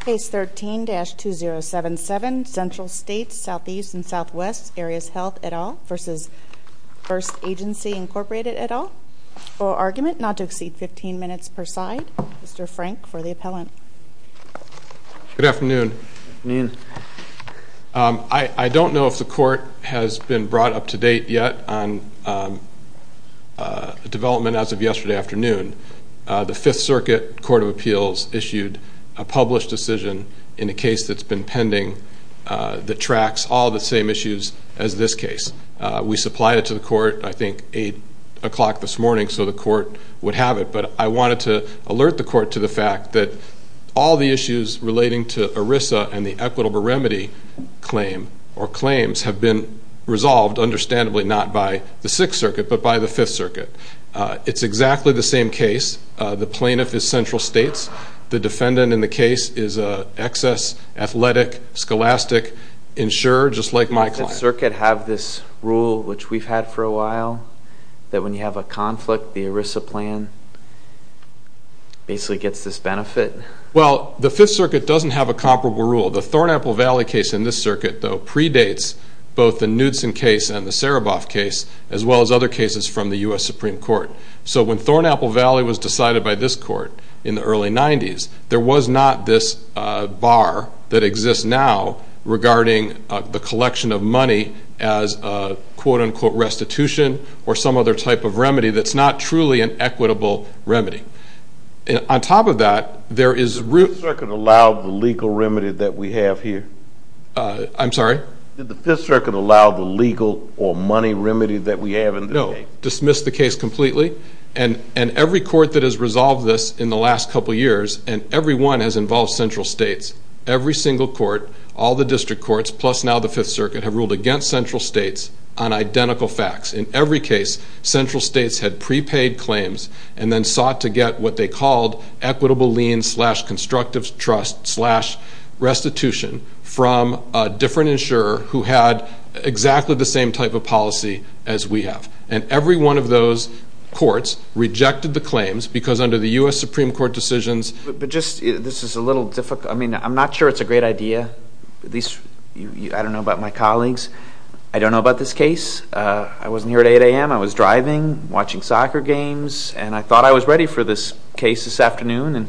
Case 13-2077 Central States SE and SW Areas Health et al. v. First Agency Incorporated et al. For argument not to exceed 15 minutes per side, Mr. Frank for the appellant. Good afternoon. I don't know if the court has been brought up to date yet on development as of yesterday afternoon. The Fifth Circuit Court of Appeals issued a published decision in a case that's been pending that tracks all the same issues as this case. We supplied it to the court I think 8 o'clock this morning so the court would have it but I wanted to alert the court to the fact that all the issues relating to ERISA and the equitable remedy claim or claims have been resolved understandably not by the Sixth Circuit but by the Fifth Circuit. It's exactly the same case. The plaintiff is in Central States. The defendant in the case is an excess, athletic, scholastic insurer just like my client. Does the Circuit have this rule which we've had for a while that when you have a conflict the ERISA plan basically gets this benefit? Well the Fifth Circuit doesn't have a comparable rule. The Thorn Apple Valley case in this circuit though predates both the Knudsen case and the Saraboff case as well as other cases from the U.S. Supreme Court. So when Thorn Apple Valley was decided by this court in the early 90s there was not this bar that exists now regarding the collection of money as a quote-unquote restitution or some other type of remedy that's not truly an equitable remedy. On top of that there is... Did the Fifth Circuit allow the legal remedy that we have here? I'm sorry? Did the Fifth Circuit allow the legal or money remedy that we have in this case? No, dismissed the case completely and every court that has resolved this in the last couple years and every one has involved Central States. Every single court, all the district courts, plus now the Fifth Circuit have ruled against Central States on identical facts. In every case Central States had prepaid claims and then sought to get what they called equitable lien slash constructive trust slash restitution from a different insurer who had exactly the same type of policy as we have. And every one of those courts rejected the claims because under the U.S. Supreme Court decisions... But just this is a little difficult I mean I'm not sure it's a great idea. At least I don't know about my colleagues. I don't know about this case. I wasn't here at 8 a.m. I was driving watching soccer games and I thought I was ready for this case this afternoon and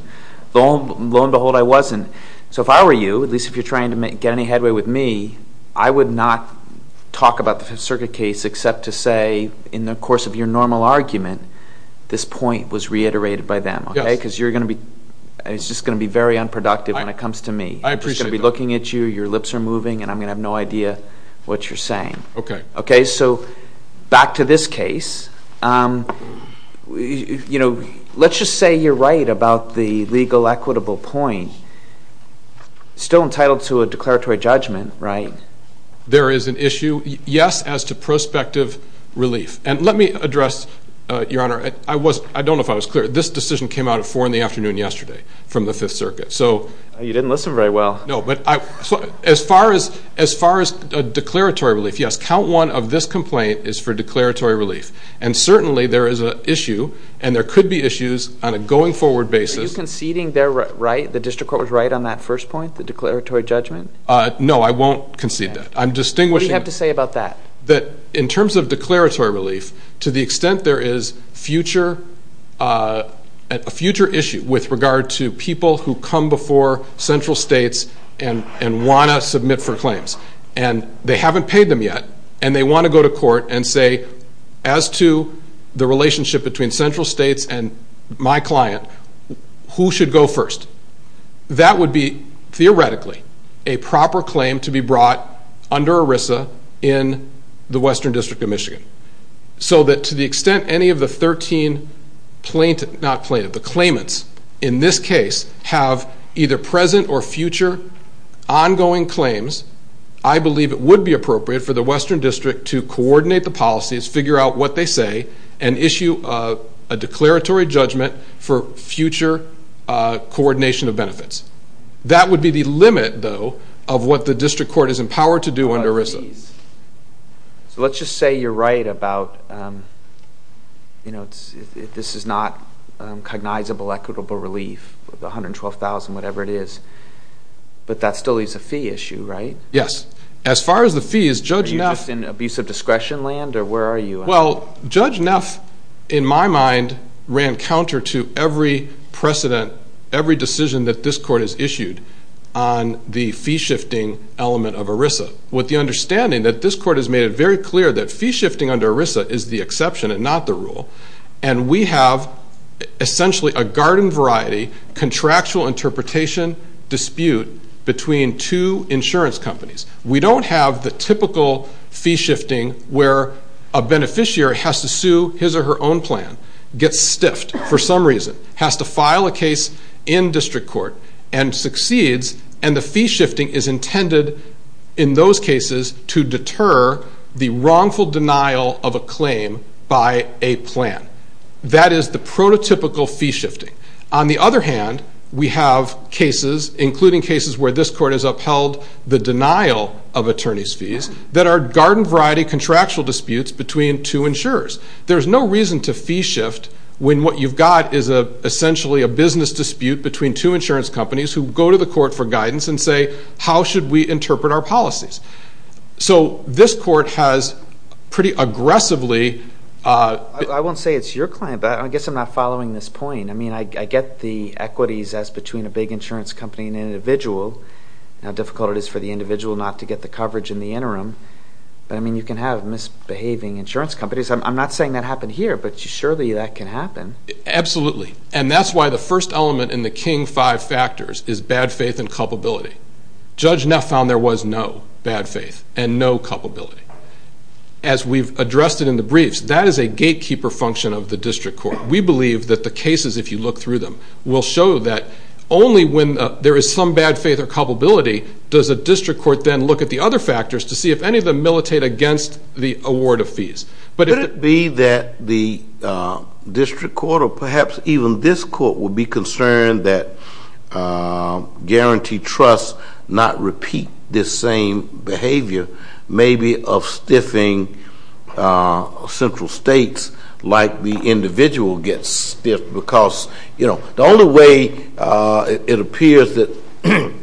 lo and behold I wasn't. So if I were you, at least if you're trying to get any headway with me, I would not talk about the Fifth Circuit case except to say in the course of your normal argument this point was reiterated by them. Okay? Because you're gonna be, it's just gonna be very unproductive when it comes to me. I appreciate it. I'm just gonna be looking at you, your lips are moving and I'm gonna have no idea what you're saying. Okay. Okay so back to this case. You know let's just say you're right about the legal equitable point. Still entitled to a declaratory judgment, right? There is an issue, yes, as to prospective relief. And let me address, Your Honor, I was, I don't know if I was clear, this decision came out at 4 in the afternoon yesterday from the Fifth Circuit. So you didn't listen very well. No but I, as far as, as far as a declaratory relief, yes, count one of this complaint is for declaratory relief. And certainly there is an issue and there could be issues on a going forward basis. Are you conceding they're right, the No, I won't concede that. I'm distinguishing. What do you have to say about that? That in terms of declaratory relief, to the extent there is future, a future issue with regard to people who come before central states and and want to submit for claims and they haven't paid them yet and they want to go to court and say, as to the relationship between central states and my client, who should go first? That would be theoretically a proper claim to be brought under ERISA in the Western District of Michigan. So that to the extent any of the 13 plaintiff, not plaintiff, the claimants in this case have either present or future ongoing claims, I believe it would be appropriate for the Western District to coordinate the policies, figure out what they say, and issue a declaratory judgment for future coordination of benefits. That would be the limit, though, of what the district court is empowered to do under ERISA. So let's just say you're right about, you know, this is not cognizable equitable relief, the $112,000, whatever it is, but that still is a fee issue, right? Yes. As far as the fees, Judge Neff... Are you just in abusive discretion land or where are you? Well, Judge Neff, in my mind, ran counter to every precedent, every decision that this court has issued on the fee-shifting element of ERISA, with the understanding that this court has made it very clear that fee-shifting under ERISA is the exception and not the rule, and we have essentially a garden-variety contractual interpretation dispute between two insurance companies. We don't have the typical fee-shifting where a beneficiary has to sue his or her own plan, gets stiffed for some reason, has to file a case in district court, and succeeds, and the fee-shifting is intended, in those cases, to deter the wrongful denial of a claim by a plan. That is the prototypical fee-shifting. On the other hand, we have cases, including cases where this court has upheld the denial of attorney's fees, that are garden-variety contractual insurers. There's no reason to fee-shift when what you've got is essentially a business dispute between two insurance companies who go to the court for guidance and say, how should we interpret our policies? So this court has pretty aggressively... I won't say it's your claim, but I guess I'm not following this point. I mean, I get the equities as between a big insurance company and an individual, how difficult it is for the individual not to get the coverage in the interim. But, I mean, you can have misbehaving insurance companies. I'm not saying that happened here, but surely that can happen. Absolutely, and that's why the first element in the king five factors is bad faith and culpability. Judge Neff found there was no bad faith and no culpability. As we've addressed it in the briefs, that is a gatekeeper function of the district court. We believe that the cases, if you look through them, will show that only when there is some bad faith or culpability does a district court then look at the other factors to see if any of them militate against the award of fees. But it be that the district court, or perhaps even this court, would be concerned that guarantee trusts not repeat this same behavior, maybe of stiffing central states like the individual gets stiffed because, you know, the only way it appears that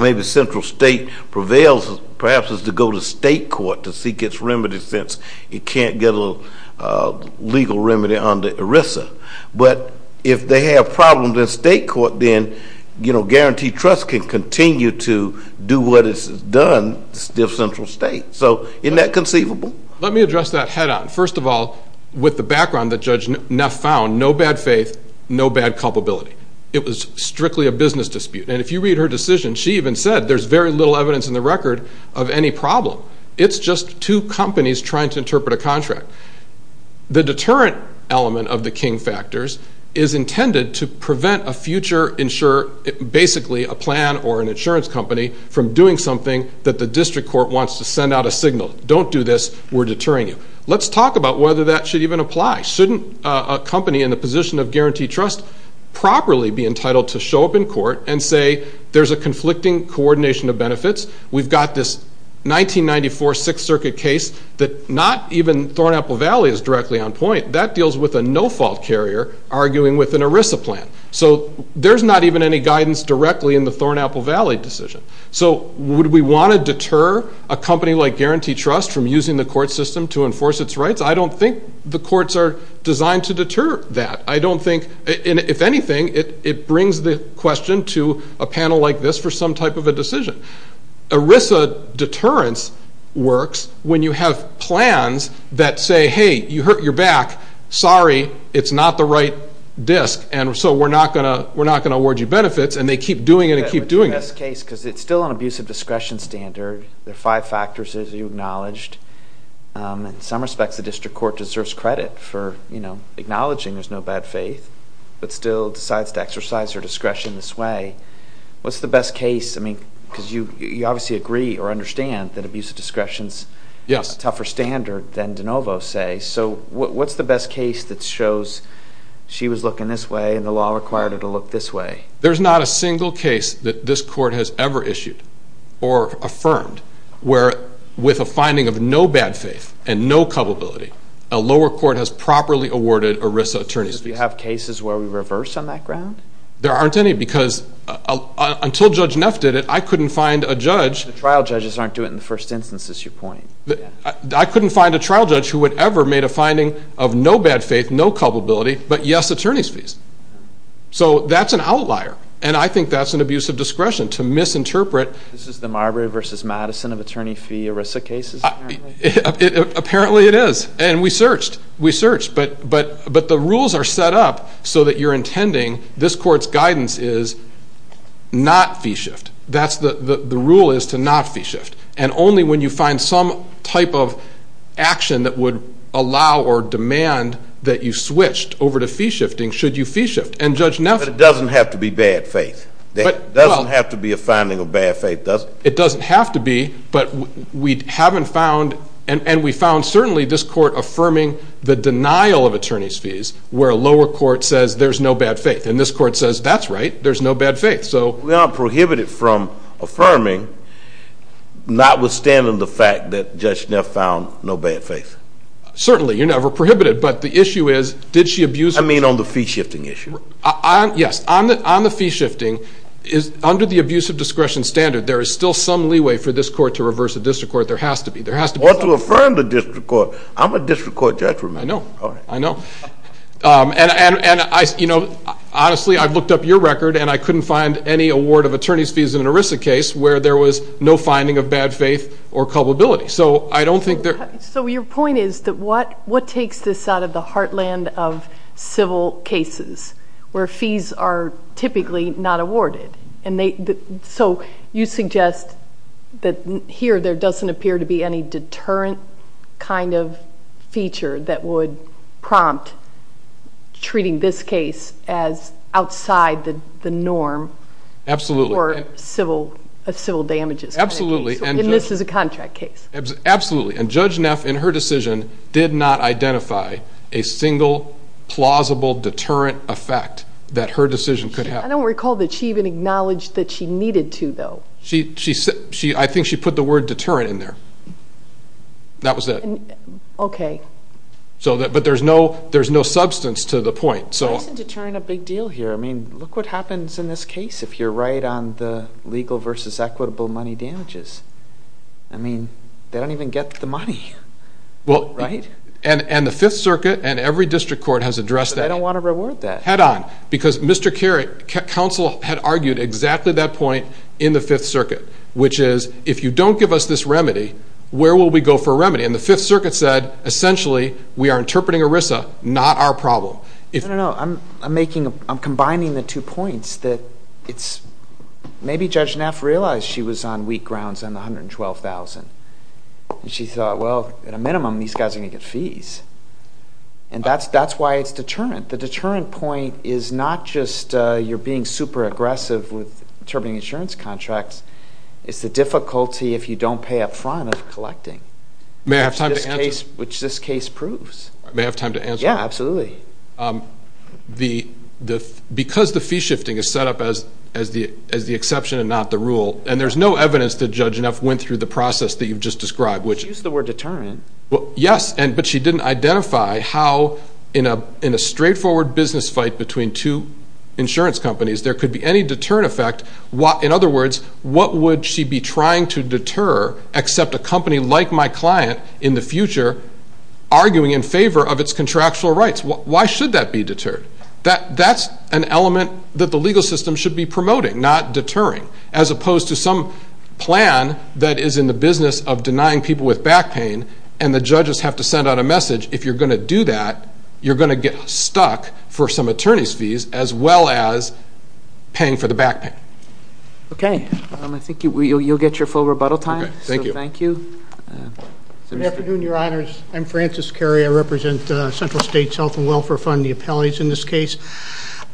maybe central state prevails, perhaps, is to go to state court to seek its remedy, since it can't get a legal remedy under ERISA. But if they have problems in state court, then, you know, guarantee trusts can continue to do what it's done, stiff central states. So isn't that conceivable? Let me address that head-on. First of all, with the background that Judge Neff found, no bad faith, no bad culpability. It was strictly a business dispute. And if you read her decision, she even said there's very little evidence in the record of any problem. It's just two companies trying to interpret a contract. The deterrent element of the king factors is intended to prevent a future insurer, basically a plan or an insurance company, from doing something that the district court wants to send out a signal, don't do this, we're deterring you. Let's talk about whether that should even apply. Shouldn't a company in the position of guarantee trust properly be entitled to show up in court and say there's a conflicting coordination of benefits? We've got this 1994 Sixth Circuit case that not even Thornaple Valley is directly on point. That deals with a no-fault carrier arguing with an ERISA plan. So there's not even any guidance directly in the Thornaple Valley decision. So would we want to enforce its rights? I don't think the courts are designed to deter that. I don't think, if anything, it brings the question to a panel like this for some type of a decision. ERISA deterrence works when you have plans that say, hey, you hurt your back, sorry, it's not the right disk, and so we're not going to award you benefits, and they keep doing it and keep doing it. But the best case, because it's still an abusive discretion standard, there are five factors, as you acknowledged. In some respects, the district court deserves credit for, you know, acknowledging there's no bad faith, but still decides to exercise her discretion this way. What's the best case? I mean, because you obviously agree or understand that abusive discretion is a tougher standard than de novo, say, so what's the best case that shows she was looking this way and the law required her to look this way? There's not a single case that this court has ever issued or affirmed where, with a finding of no bad faith and no culpability, a lower court has properly awarded ERISA attorney's fees. Do you have cases where we reverse on that ground? There aren't any, because until Judge Neff did it, I couldn't find a judge. The trial judges aren't doing it in the first instance, is your point? I couldn't find a trial judge who would ever made a finding of no bad faith, no culpability, but yes, attorney's fees. So that's an abuse of discretion, to misinterpret. This is the Marbury versus Madison of attorney fee ERISA cases? Apparently it is, and we searched, we searched, but the rules are set up so that you're intending this court's guidance is not fee shift. That's the rule is to not fee shift, and only when you find some type of action that would allow or demand that you switched over to fee shifting should you fee shift, and Judge Neff. But it doesn't have to be bad faith. It doesn't have to be a finding of bad faith, does it? It doesn't have to be, but we haven't found, and we found certainly this court affirming the denial of attorney's fees, where a lower court says there's no bad faith, and this court says that's right, there's no bad faith. So we are prohibited from affirming, not withstanding the fact that Judge Neff found no bad faith. Certainly, you're never prohibited, but the issue is, did she abuse. I mean on the fee shifting issue? Yes, on the fee shifting, under the abusive discretion standard, there is still some leeway for this court to reverse a district court. There has to be, there has to be. Or to affirm the district court. I'm a district court judge. I know, I know, and I, you know, honestly I've looked up your record and I couldn't find any award of attorney's fees in an ERISA case where there was no finding of bad faith or culpability. So I don't think there. So your point is that what, what takes this out of the heartland of civil cases where fees are typically not awarded? And they, so you suggest that here there doesn't appear to be any deterrent kind of feature that would prompt treating this case as outside the norm. Absolutely. For civil, civil damages. Absolutely. And this is a decision did not identify a single plausible deterrent effect that her decision could have. I don't recall that she even acknowledged that she needed to though. She, she said, she, I think she put the word deterrent in there. That was it. Okay. So that, but there's no, there's no substance to the point. So. Why isn't deterrent a big deal here? I mean look what happens in this case if you're right on the legal versus equitable money damages. I mean they don't even get the money. Well. Right? And, and the Fifth Circuit and every district court has addressed that. I don't want to reward that. Head on. Because Mr. Kerry, counsel had argued exactly that point in the Fifth Circuit. Which is, if you don't give us this remedy, where will we go for remedy? And the Fifth Circuit said, essentially we are interpreting ERISA, not our problem. I don't know, I'm, I'm making, I'm combining the two points that it's, maybe Judge Neff realized she was on weak grounds on the $112,000. And she thought, well at a minimum these guys are gonna get fees. And that's, that's why it's deterrent. The deterrent point is not just you're being super aggressive with determining insurance contracts. It's the difficulty if you don't pay up front of collecting. May I have time to answer? Which this case, which this case proves. May I have time to answer? Yeah, absolutely. The, the, because the fee shifting is set up as, as the, as the exception and not the rule. And there's no evidence that Judge Neff went through the process that you've just described. Which. She used the word deterrent. Well, yes. And, but she didn't identify how in a, in a straightforward business fight between two insurance companies, there could be any deterrent effect. What, in other words, what would she be trying to deter, except a company like my client in the future, arguing in favor of its contractual rights. Why should that be deterred? That, that's an element that the legal system should be promoting, not deterring. As opposed to some plan that is in the business of denying people with back pain and the judges have to send out a message. If you're gonna do that, you're gonna get stuck for some attorney's fees as well as paying for the back pain. Okay. I think you, you'll get your full rebuttal time. Thank you. Thank you. Good afternoon, your honors. I'm Francis Carey. I am the Director of the Federal State's Health and Welfare Fund, the appellees in this case.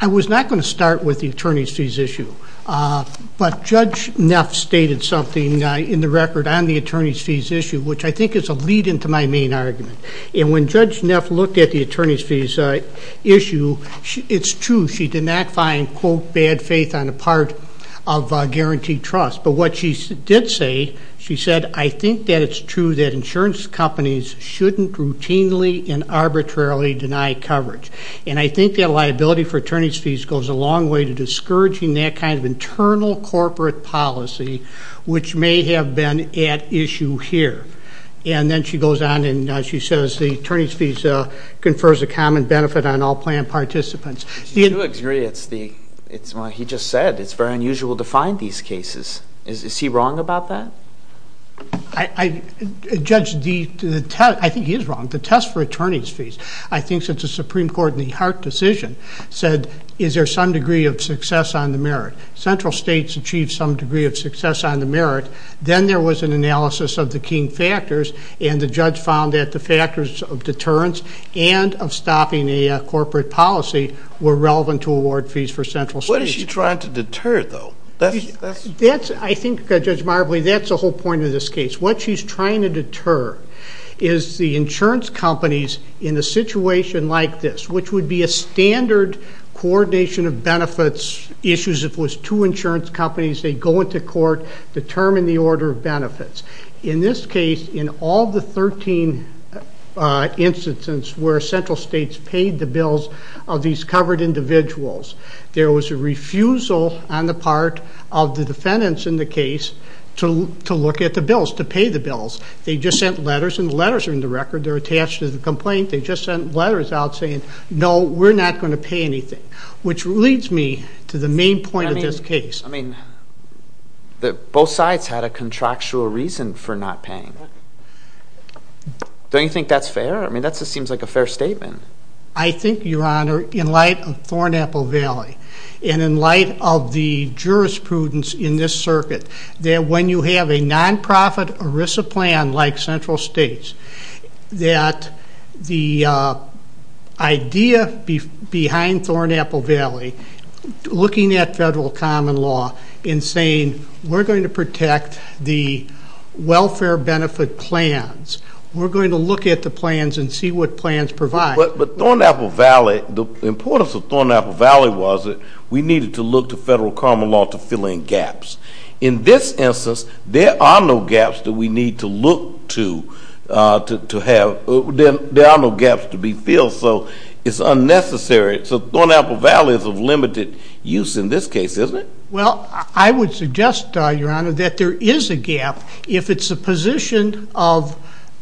I was not going to start with the attorney's fees issue. But Judge Neff stated something in the record on the attorney's fees issue, which I think is a lead into my main argument. And when Judge Neff looked at the attorney's fees issue, it's true she did not find, quote, bad faith on a part of guaranteed trust. But what she did say, she said, I think that it's true that insurance companies shouldn't routinely and arbitrarily deny coverage. And I think that liability for attorney's fees goes a long way to discouraging that kind of internal corporate policy, which may have been at issue here. And then she goes on and she says the attorney's fees confers a common benefit on all plan participants. Do you agree it's the, it's what he just said, it's very unusual to find these cases. Is he wrong about that? I, Judge, the test, I think since the Supreme Court in the Hart decision said, is there some degree of success on the merit? Central states achieved some degree of success on the merit. Then there was an analysis of the key factors and the judge found that the factors of deterrence and of stopping a corporate policy were relevant to award fees for central states. What is she trying to deter though? That's, I think, Judge Marbley, that's the whole point of this case. What she's trying to deter is the situation like this, which would be a standard coordination of benefits issues if it was two insurance companies, they go into court, determine the order of benefits. In this case, in all the 13 instances where central states paid the bills of these covered individuals, there was a refusal on the part of the defendants in the case to look at the bills, to pay the bills. They just sent letters and the letters are in the record. They're attached to the complaint. They just sent letters out saying, no, we're not going to pay anything, which leads me to the main point of this case. I mean, both sides had a contractual reason for not paying. Don't you think that's fair? I mean, that just seems like a fair statement. I think, Your Honor, in light of Thornaple Valley and in light of the jurisprudence in this circuit, that when you have a non-profit ERISA plan like central states, that the idea behind Thornaple Valley, looking at federal common law in saying, we're going to protect the welfare benefit plans. We're going to look at the plans and see what plans provide. But Thornaple Valley, the importance of Thornaple Valley was that we needed to look to to have, there are no gaps to be filled, so it's unnecessary. So Thornaple Valley is of limited use in this case, isn't it? Well, I would suggest, Your Honor, that there is a gap if it's the position of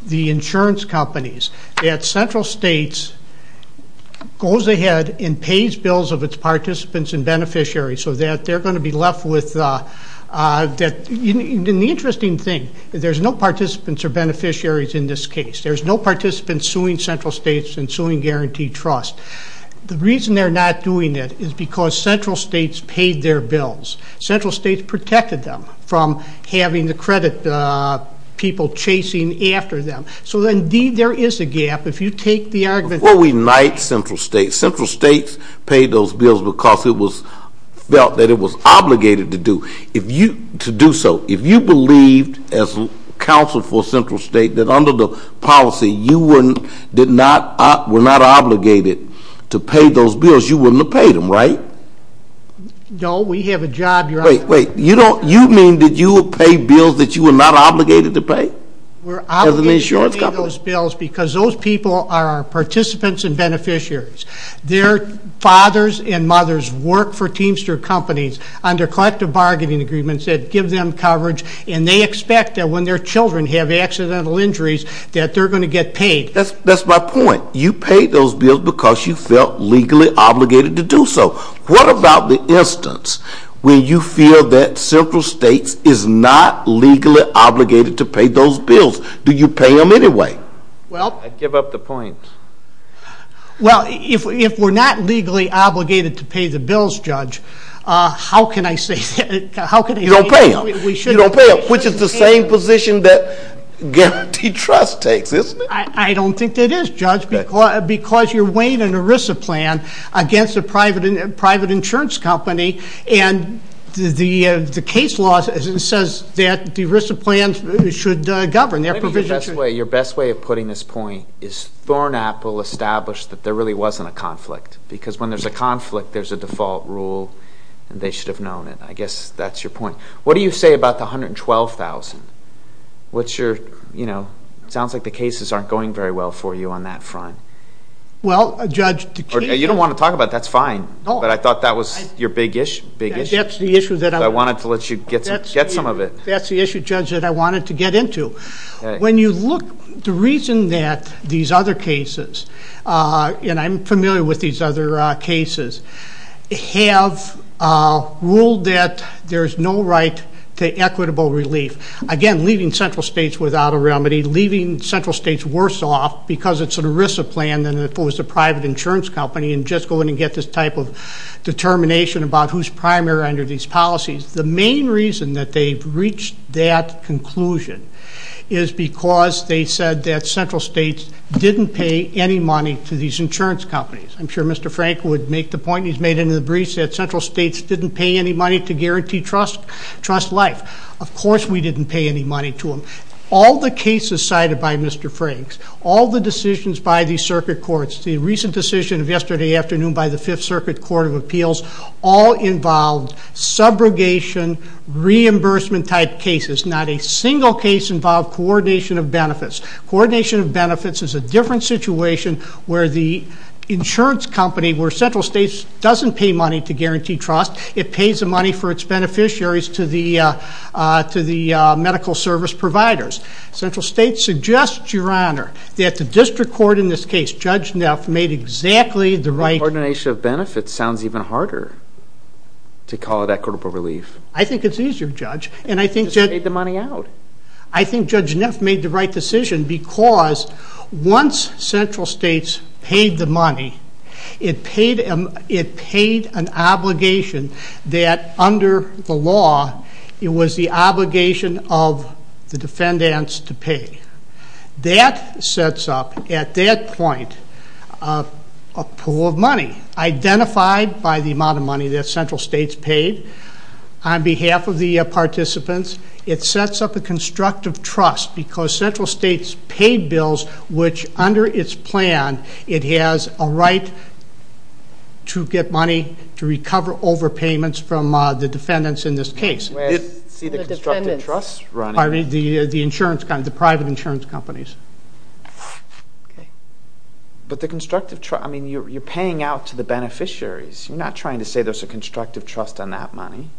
the insurance companies that central states goes ahead and pays bills of its participants and beneficiaries so that they're going to be left with, and the interesting thing, there's no participants or beneficiaries in this case. There's no participants suing central states and suing guaranteed trust. The reason they're not doing it is because central states paid their bills. Central states protected them from having the credit people chasing after them. So indeed, there is a gap. If you take the argument... Before we knight central states, central states paid those bills because it was felt that it was obligated to do. If you, to do so, if you believed as counsel for central state that under the policy you were, did not, were not obligated to pay those bills, you wouldn't have paid them, right? No, we have a job, Your Honor. Wait, wait, you don't, you mean that you will pay bills that you were not obligated to pay? We're obligated to pay those bills because those people are participants and beneficiaries. Their fathers and mothers work for Teamster companies under collective bargaining agreements that give them coverage and they expect that when their children have accidental injuries that they're going to get paid. That's, that's my point. You paid those bills because you felt legally obligated to do so. What about the instance where you feel that central states is not legally obligated to pay those bills? Do you pay them anyway? Well, I'd give up the point. Well, if we're not legally obligated to pay the bills, Judge, how can I say that? You don't pay them. You don't pay them, which is the same position that Guaranteed Trust takes, isn't it? I don't think it is, Judge, because you're weighing an ERISA plan against a private insurance company and the case law says that the ERISA plans should govern their provision. Maybe your best way, your is Thornaple established that there really wasn't a conflict because when there's a conflict, there's a default rule and they should have known it. I guess that's your point. What do you say about the 112,000? What's your, you know, sounds like the cases aren't going very well for you on that front. Well, Judge, you don't want to talk about that's fine, but I thought that was your big issue. That's the issue that I wanted to let you get some of it. That's the reason that these other cases, and I'm familiar with these other cases, have ruled that there's no right to equitable relief. Again, leaving central states without a remedy, leaving central states worse off because it's an ERISA plan than if it was a private insurance company and just go in and get this type of determination about who's primary under these policies. The main reason that they've reached that conclusion is because they said that central states didn't pay any money to these insurance companies. I'm sure Mr. Frank would make the point he's made in the briefs that central states didn't pay any money to guarantee trust life. Of course we didn't pay any money to them. All the cases cited by Mr. Franks, all the decisions by these circuit courts, the recent decision of yesterday afternoon by the Fifth Circuit Court of Appeals, all involved subrogation reimbursement type cases. Not a single case involved coordination of benefits. Coordination of benefits is a different situation where the insurance company, where central states doesn't pay money to guarantee trust, it pays the money for its beneficiaries to the medical service providers. Central states suggest, Your Honor, that the district court in this case, Judge Neff, made exactly the right... To call it equitable relief. I think it's easier, Judge. And I think... Because they paid the money out. I think Judge Neff made the right decision because once central states paid the money, it paid an obligation that under the law, it was the obligation of the defendants to pay. That sets up, at that point, a pool of money identified by the amount of money that central states paid. On behalf of the participants, it sets up a constructive trust because central states pay bills, which under its plan, it has a right to get money to recover overpayments from the defendants in this case. I see the constructive trust running. The private insurance companies. Okay. But the constructive trust... You're paying out to the defendants. You say there's a constructive trust on that money,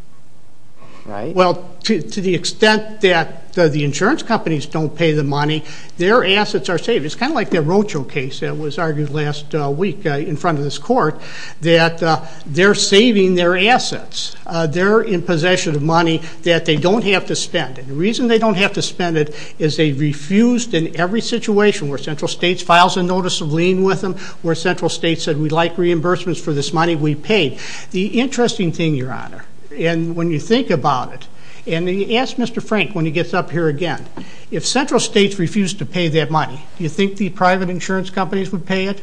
right? Well, to the extent that the insurance companies don't pay the money, their assets are saved. It's kind of like that Rocho case that was argued last week in front of this court, that they're saving their assets. They're in possession of money that they don't have to spend. And the reason they don't have to spend it is they refused in every situation where central states files a notice of lien with them, where central states said, We'd like reimbursements for this money we paid. The interesting thing, Your Honor, and when you think about it, and you ask Mr. Frank when he gets up here again, if central states refused to pay that money, do you think the private insurance companies would pay it?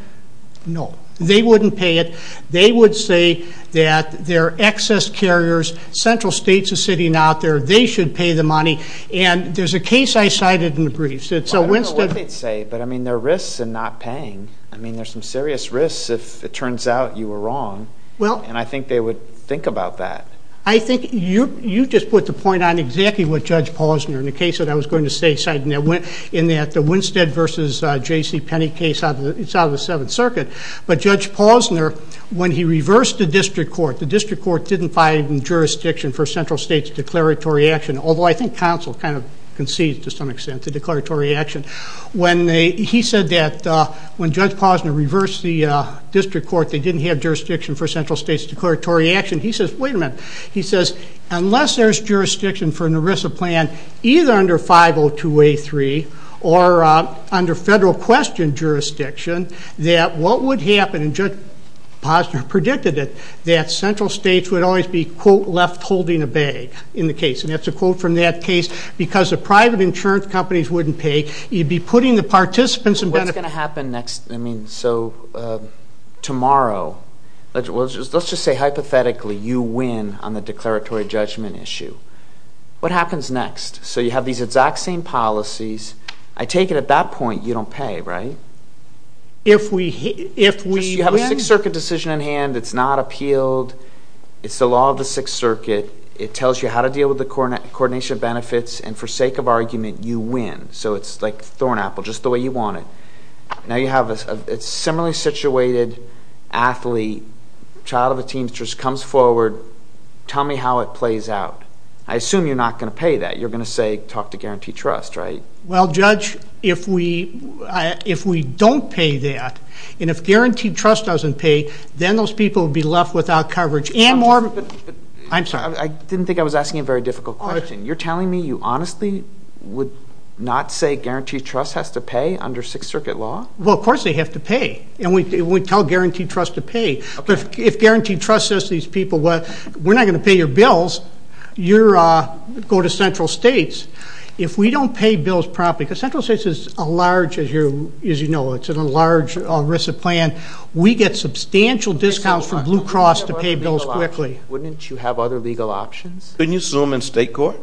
No, they wouldn't pay it. They would say that they're excess carriers, central states are sitting out there, they should pay the money. And there's a case I cited in the briefs... I don't know what they'd say, but there are risks in not paying. I mean, there's some serious risks if it turns out you were wrong, and I think they would think about that. I think you just put the point on exactly what Judge Posner, in the case that I was going to say, cited in that the Winstead versus J.C. Penney case, it's out of the Seventh Circuit. But Judge Posner, when he reversed the district court, the district court didn't find jurisdiction for central states declaratory action, although I think counsel kind of concedes to some extent to declaratory action. He said that when Judge Posner reversed the district court, they didn't have jurisdiction for central states declaratory action. He says, wait a minute. He says, unless there's jurisdiction for an ERISA plan, either under 502A3 or under federal question jurisdiction, that what would happen, and Judge Posner predicted it, that central states would always be, quote, left holding a bag in the case. And that's a quote from that case, because the private insurance companies wouldn't pay. You'd be putting the participants in... What's gonna happen next? I mean, so tomorrow, let's just say hypothetically, you win on the declaratory judgment issue. What happens next? So you have these exact same policies. I take it at that point, you don't pay, right? If we win? You have a Sixth Circuit decision in hand, it's not appealed. It's the law of the Sixth Circuit. It tells you how to deal with the coordination of benefits, and for sake of argument, you win. So it's like a thorn apple, just the way you want it. Now you have a similarly situated athlete, child of a teamster, just comes forward, tell me how it plays out. I assume you're not gonna pay that. You're gonna say, talk to Guaranteed Trust, right? Well, Judge, if we don't pay that, and if Guaranteed Trust doesn't pay, then those people will be left without coverage and more... I'm sorry. I didn't think I was asking a very difficult question. You're telling me you honestly would not say Guaranteed Trust has to pay under Sixth Circuit law? Well, of course they have to pay, and we tell Guaranteed Trust to pay. If Guaranteed Trust says to these people, well, we're not gonna pay your bills, you go to Central States. If we don't pay bills properly, because Central States is a large, as you know, it's a large risk of plan, we get substantial discounts from Blue Cross to pay bills quickly. Wouldn't you have other legal options? Couldn't you sue them in State Court?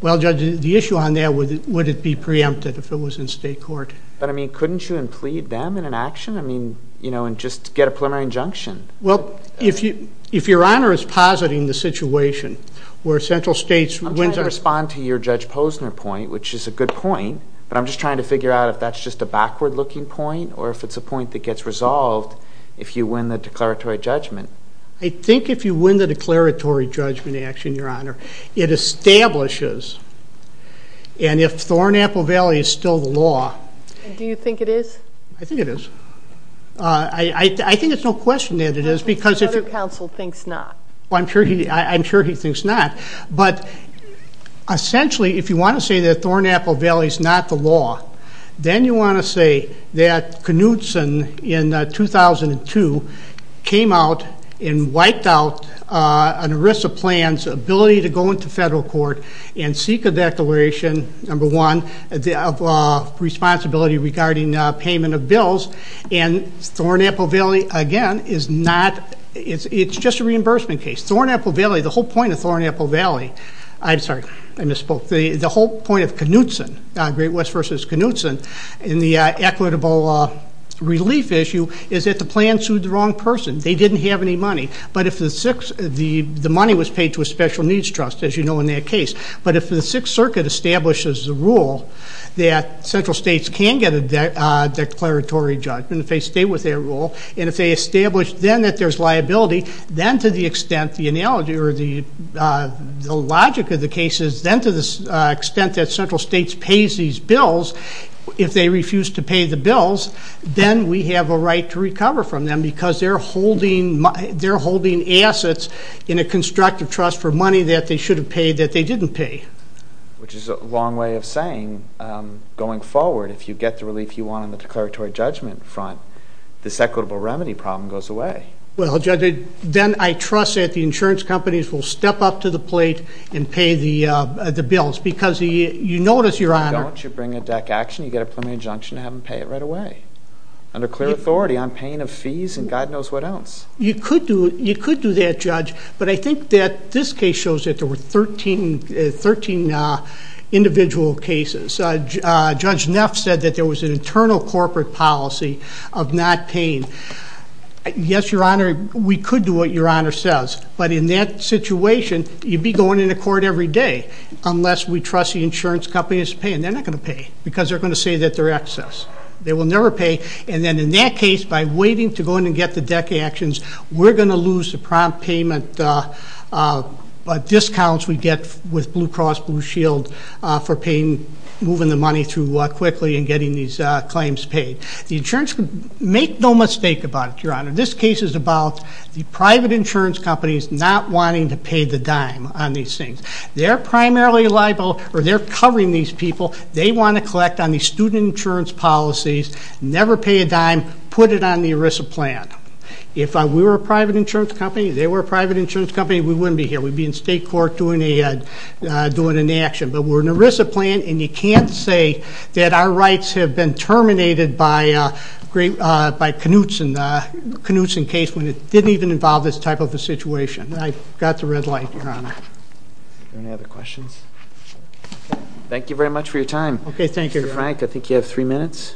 Well, Judge, the issue on there, would it be preempted if it was in State Court? But I mean, couldn't you implead them in an action, I mean, and just get a preliminary injunction? Well, if your Honor is positing the situation where Central States wins... I'm trying to respond to your Judge Posner point, which is a good point, but I'm just trying to figure out if that's just a backward looking point, or if it's a point that gets resolved if you win the declaratory judgment. I think if you win the declaratory judgment action, your Honor, it establishes. And if Thornapple Valley is still the law... Do you think it is? I think it is. I think it's no question that it is, because if... The other counsel thinks not. Well, I'm sure he thinks not. But essentially, if you wanna say that Thornapple Valley's not the law, then you wanna say that Knutson in 2002 came out and wiped out an ERISA plan's ability to go into federal court and seek a declaration, number one, of responsibility regarding payment of bills. And Thornapple Valley, again, is not... It's just a reimbursement case. Thornapple Valley, the whole point of Thornapple Valley... I'm sorry, I misspoke. The whole point of Knutson, Great West versus Knutson, in the equitable relief issue, is that the plan sued the wrong person. They didn't have any money. But if the six... The money was paid to a special needs trust, as you know, in that case. But if the Sixth Circuit establishes the rule that central states can get a declaratory judgment, if they stay with their rule, and if they establish then that there's liability, then to the extent the analogy or the logic of the case is, then to the extent that central states pays these if they refuse to pay the bills, then we have a right to recover from them because they're holding assets in a constructive trust for money that they should have paid that they didn't pay. Which is a long way of saying, going forward, if you get the relief you want on the declaratory judgment front, this equitable remedy problem goes away. Well, Judge, then I trust that the insurance companies will step up to the plate and pay the bills because you notice, if you don't, you bring a deck action, you get a preliminary injunction to have them pay it right away, under clear authority on paying of fees and God knows what else. You could do that, Judge, but I think that this case shows that there were 13 individual cases. Judge Neff said that there was an internal corporate policy of not paying. Yes, Your Honor, we could do what Your Honor says, but in that situation, you'd be going into court every day unless we let the insurance companies pay, and they're not gonna pay because they're gonna say that they're excess. They will never pay. And then in that case, by waiting to go in and get the deck actions, we're gonna lose the prompt payment discounts we get with Blue Cross Blue Shield for paying, moving the money through quickly and getting these claims paid. The insurance... Make no mistake about it, Your Honor, this case is about the private insurance companies not wanting to pay the dime on these things. They're primarily liable or they're covering these people. They wanna collect on the student insurance policies, never pay a dime, put it on the ERISA plan. If we were a private insurance company, if they were a private insurance company, we wouldn't be here. We'd be in state court doing an action. But we're an ERISA plan, and you can't say that our rights have been terminated by Knutson case when it didn't even involve this type of a situation. I got the red light, Your Honor. Are there any other questions? Thank you very much for your time. Okay, thank you, Your Honor. Frank, I think you have three minutes.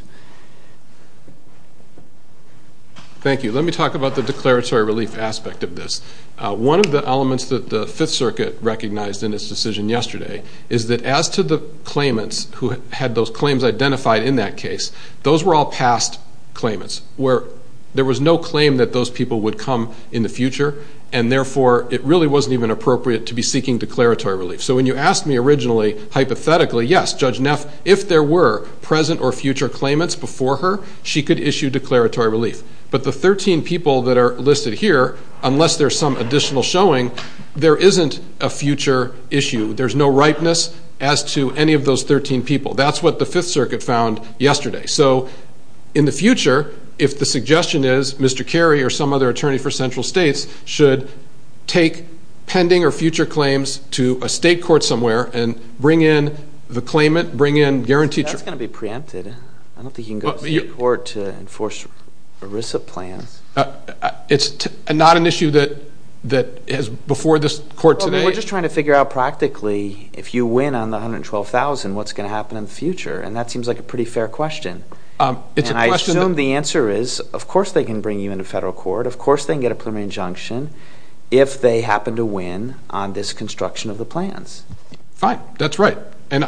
Thank you. Let me talk about the declaratory relief aspect of this. One of the elements that the Fifth Circuit recognized in its decision yesterday is that as to the claimants who had those claims identified in that case, those were all past claimants, where there was no claim that those people would come in the future, and therefore, it really wasn't even appropriate to be seeking declaratory relief. So when you asked me originally, hypothetically, yes, Judge Neff, if there were present or future claimants before her, she could issue declaratory relief. But the 13 people that are listed here, unless there's some additional showing, there isn't a future issue. There's no ripeness as to any of those 13 people. That's what the Fifth Circuit found yesterday. So in the future, if the suggestion is Mr. Attorney for Central States should take pending or future claims to a state court somewhere and bring in the claimant, bring in guaranteed... That's gonna be preempted. I don't think you can go to state court to enforce ERISA plans. It's not an issue that is before this court today. We're just trying to figure out practically, if you win on the 112,000, what's gonna happen in the future? And that seems like a pretty fair question. And I assume the answer is, of course, they can bring you to federal court. Of course, they can get a preliminary injunction if they happen to win on this construction of the plans. Fine, that's right. And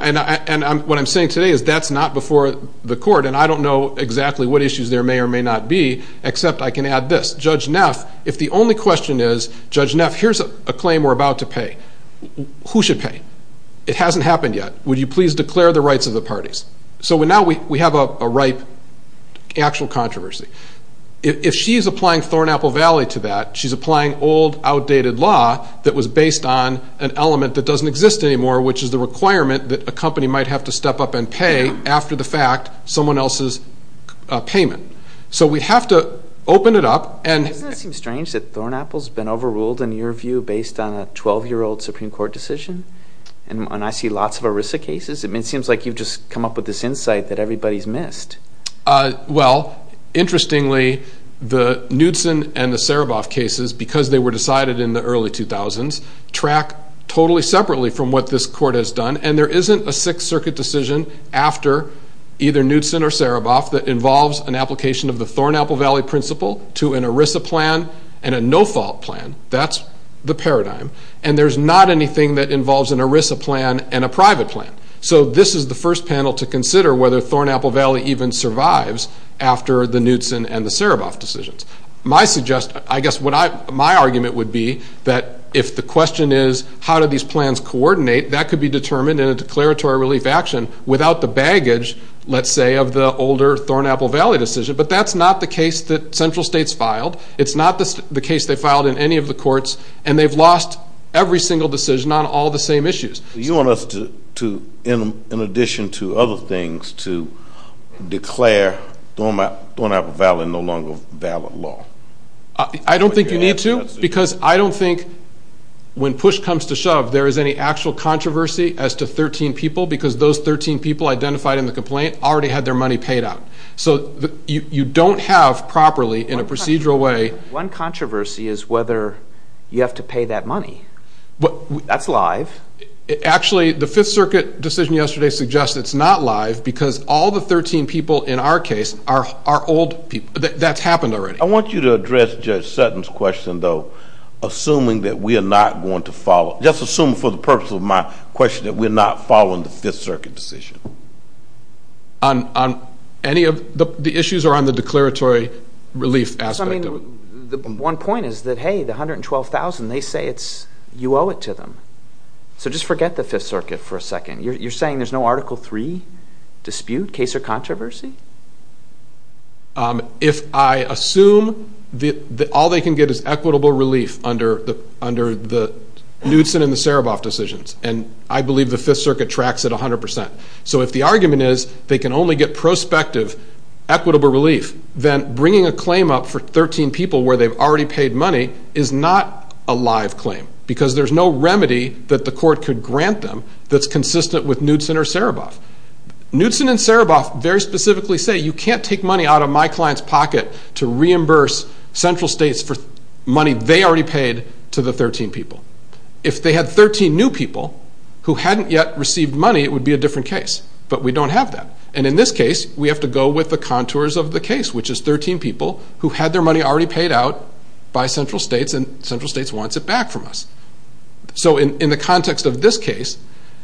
what I'm saying today is that's not before the court. And I don't know exactly what issues there may or may not be, except I can add this. Judge Neff, if the only question is, Judge Neff, here's a claim we're about to pay. Who should pay? It hasn't happened yet. Would you please declare the rights of the parties? So now we have a ripe, actual controversy. If she's applying Thornapple Valley to that, she's applying old, outdated law that was based on an element that doesn't exist anymore, which is the requirement that a company might have to step up and pay after the fact someone else's payment. So we have to open it up and... Doesn't it seem strange that Thornapple's been overruled, in your view, based on a 12 year old Supreme Court decision? And I see lots of ERISA cases. It seems like you've just come up with this insight that everybody's missed. Well, interestingly, the Knudsen and the Sereboff cases, because they were decided in the early 2000s, track totally separately from what this court has done. And there isn't a Sixth Circuit decision after either Knudsen or Sereboff that involves an application of the Thornapple Valley principle to an ERISA plan and a no fault plan. That's the paradigm. And there's not anything that involves an ERISA plan and a private plan. So this is the first panel to consider whether Thornapple Valley even survives after the Knudsen and the Sereboff decisions. I guess my argument would be that if the question is, how do these plans coordinate, that could be determined in a declaratory relief action without the baggage, let's say, of the older Thornapple Valley decision. But that's not the case that central states filed. It's not the case they filed in any of the courts, and they've lost every single decision on all the same issues. You want us to, in addition to other things, to declare Thornapple Valley no longer valid law? I don't think you need to, because I don't think when push comes to shove, there is any actual controversy as to 13 people, because those 13 people identified in the complaint already had their money paid out. So you don't have properly in a procedural way... One controversy is whether you have to pay that out. Actually, the Fifth Circuit decision yesterday suggests it's not live, because all the 13 people in our case are old people. That's happened already. I want you to address Judge Sutton's question, though, assuming that we are not going to follow... Just assuming for the purpose of my question, that we're not following the Fifth Circuit decision. The issues are on the declaratory relief aspect. I mean, the one point is that, hey, the 112,000, they say it's... You owe it to them. So just forget the Fifth Circuit for a second. You're saying there's no Article Three dispute, case or controversy? If I assume that all they can get is equitable relief under the Knudsen and the Sereboff decisions, and I believe the Fifth Circuit tracks it 100%. So if the argument is they can only get prospective equitable relief, then bringing a claim up for 13 people where they've already received money is a remedy that the court could grant them that's consistent with Knudsen or Sereboff. Knudsen and Sereboff very specifically say, you can't take money out of my client's pocket to reimburse central states for money they already paid to the 13 people. If they had 13 new people who hadn't yet received money, it would be a different case, but we don't have that. And in this case, we have to go with the contours of the case, which is 13 people who had their money already paid out by central states, and central states wants it back from us. So in the context of this case,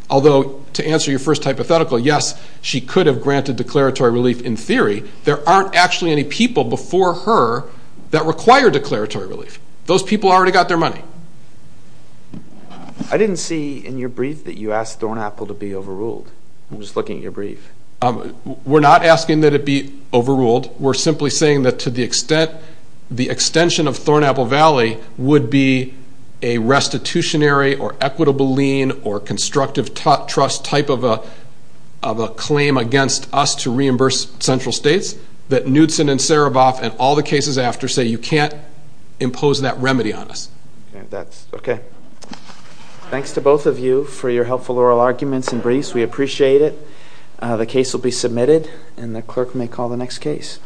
although to answer your first hypothetical, yes, she could have granted declaratory relief in theory, there aren't actually any people before her that require declaratory relief. Those people already got their money. I didn't see in your brief that you asked Thornapple to be overruled. I'm just looking at your brief. We're not asking that it be overruled. We're simply saying that to the extent that there's a restitutionary or equitable lien or constructive trust type of a claim against us to reimburse central states, that Nudsen and Sereboff and all the cases after say, you can't impose that remedy on us. And that's... Okay. Thanks to both of you for your helpful oral arguments and briefs. We appreciate it. The case will be submitted and the clerk may call the next case.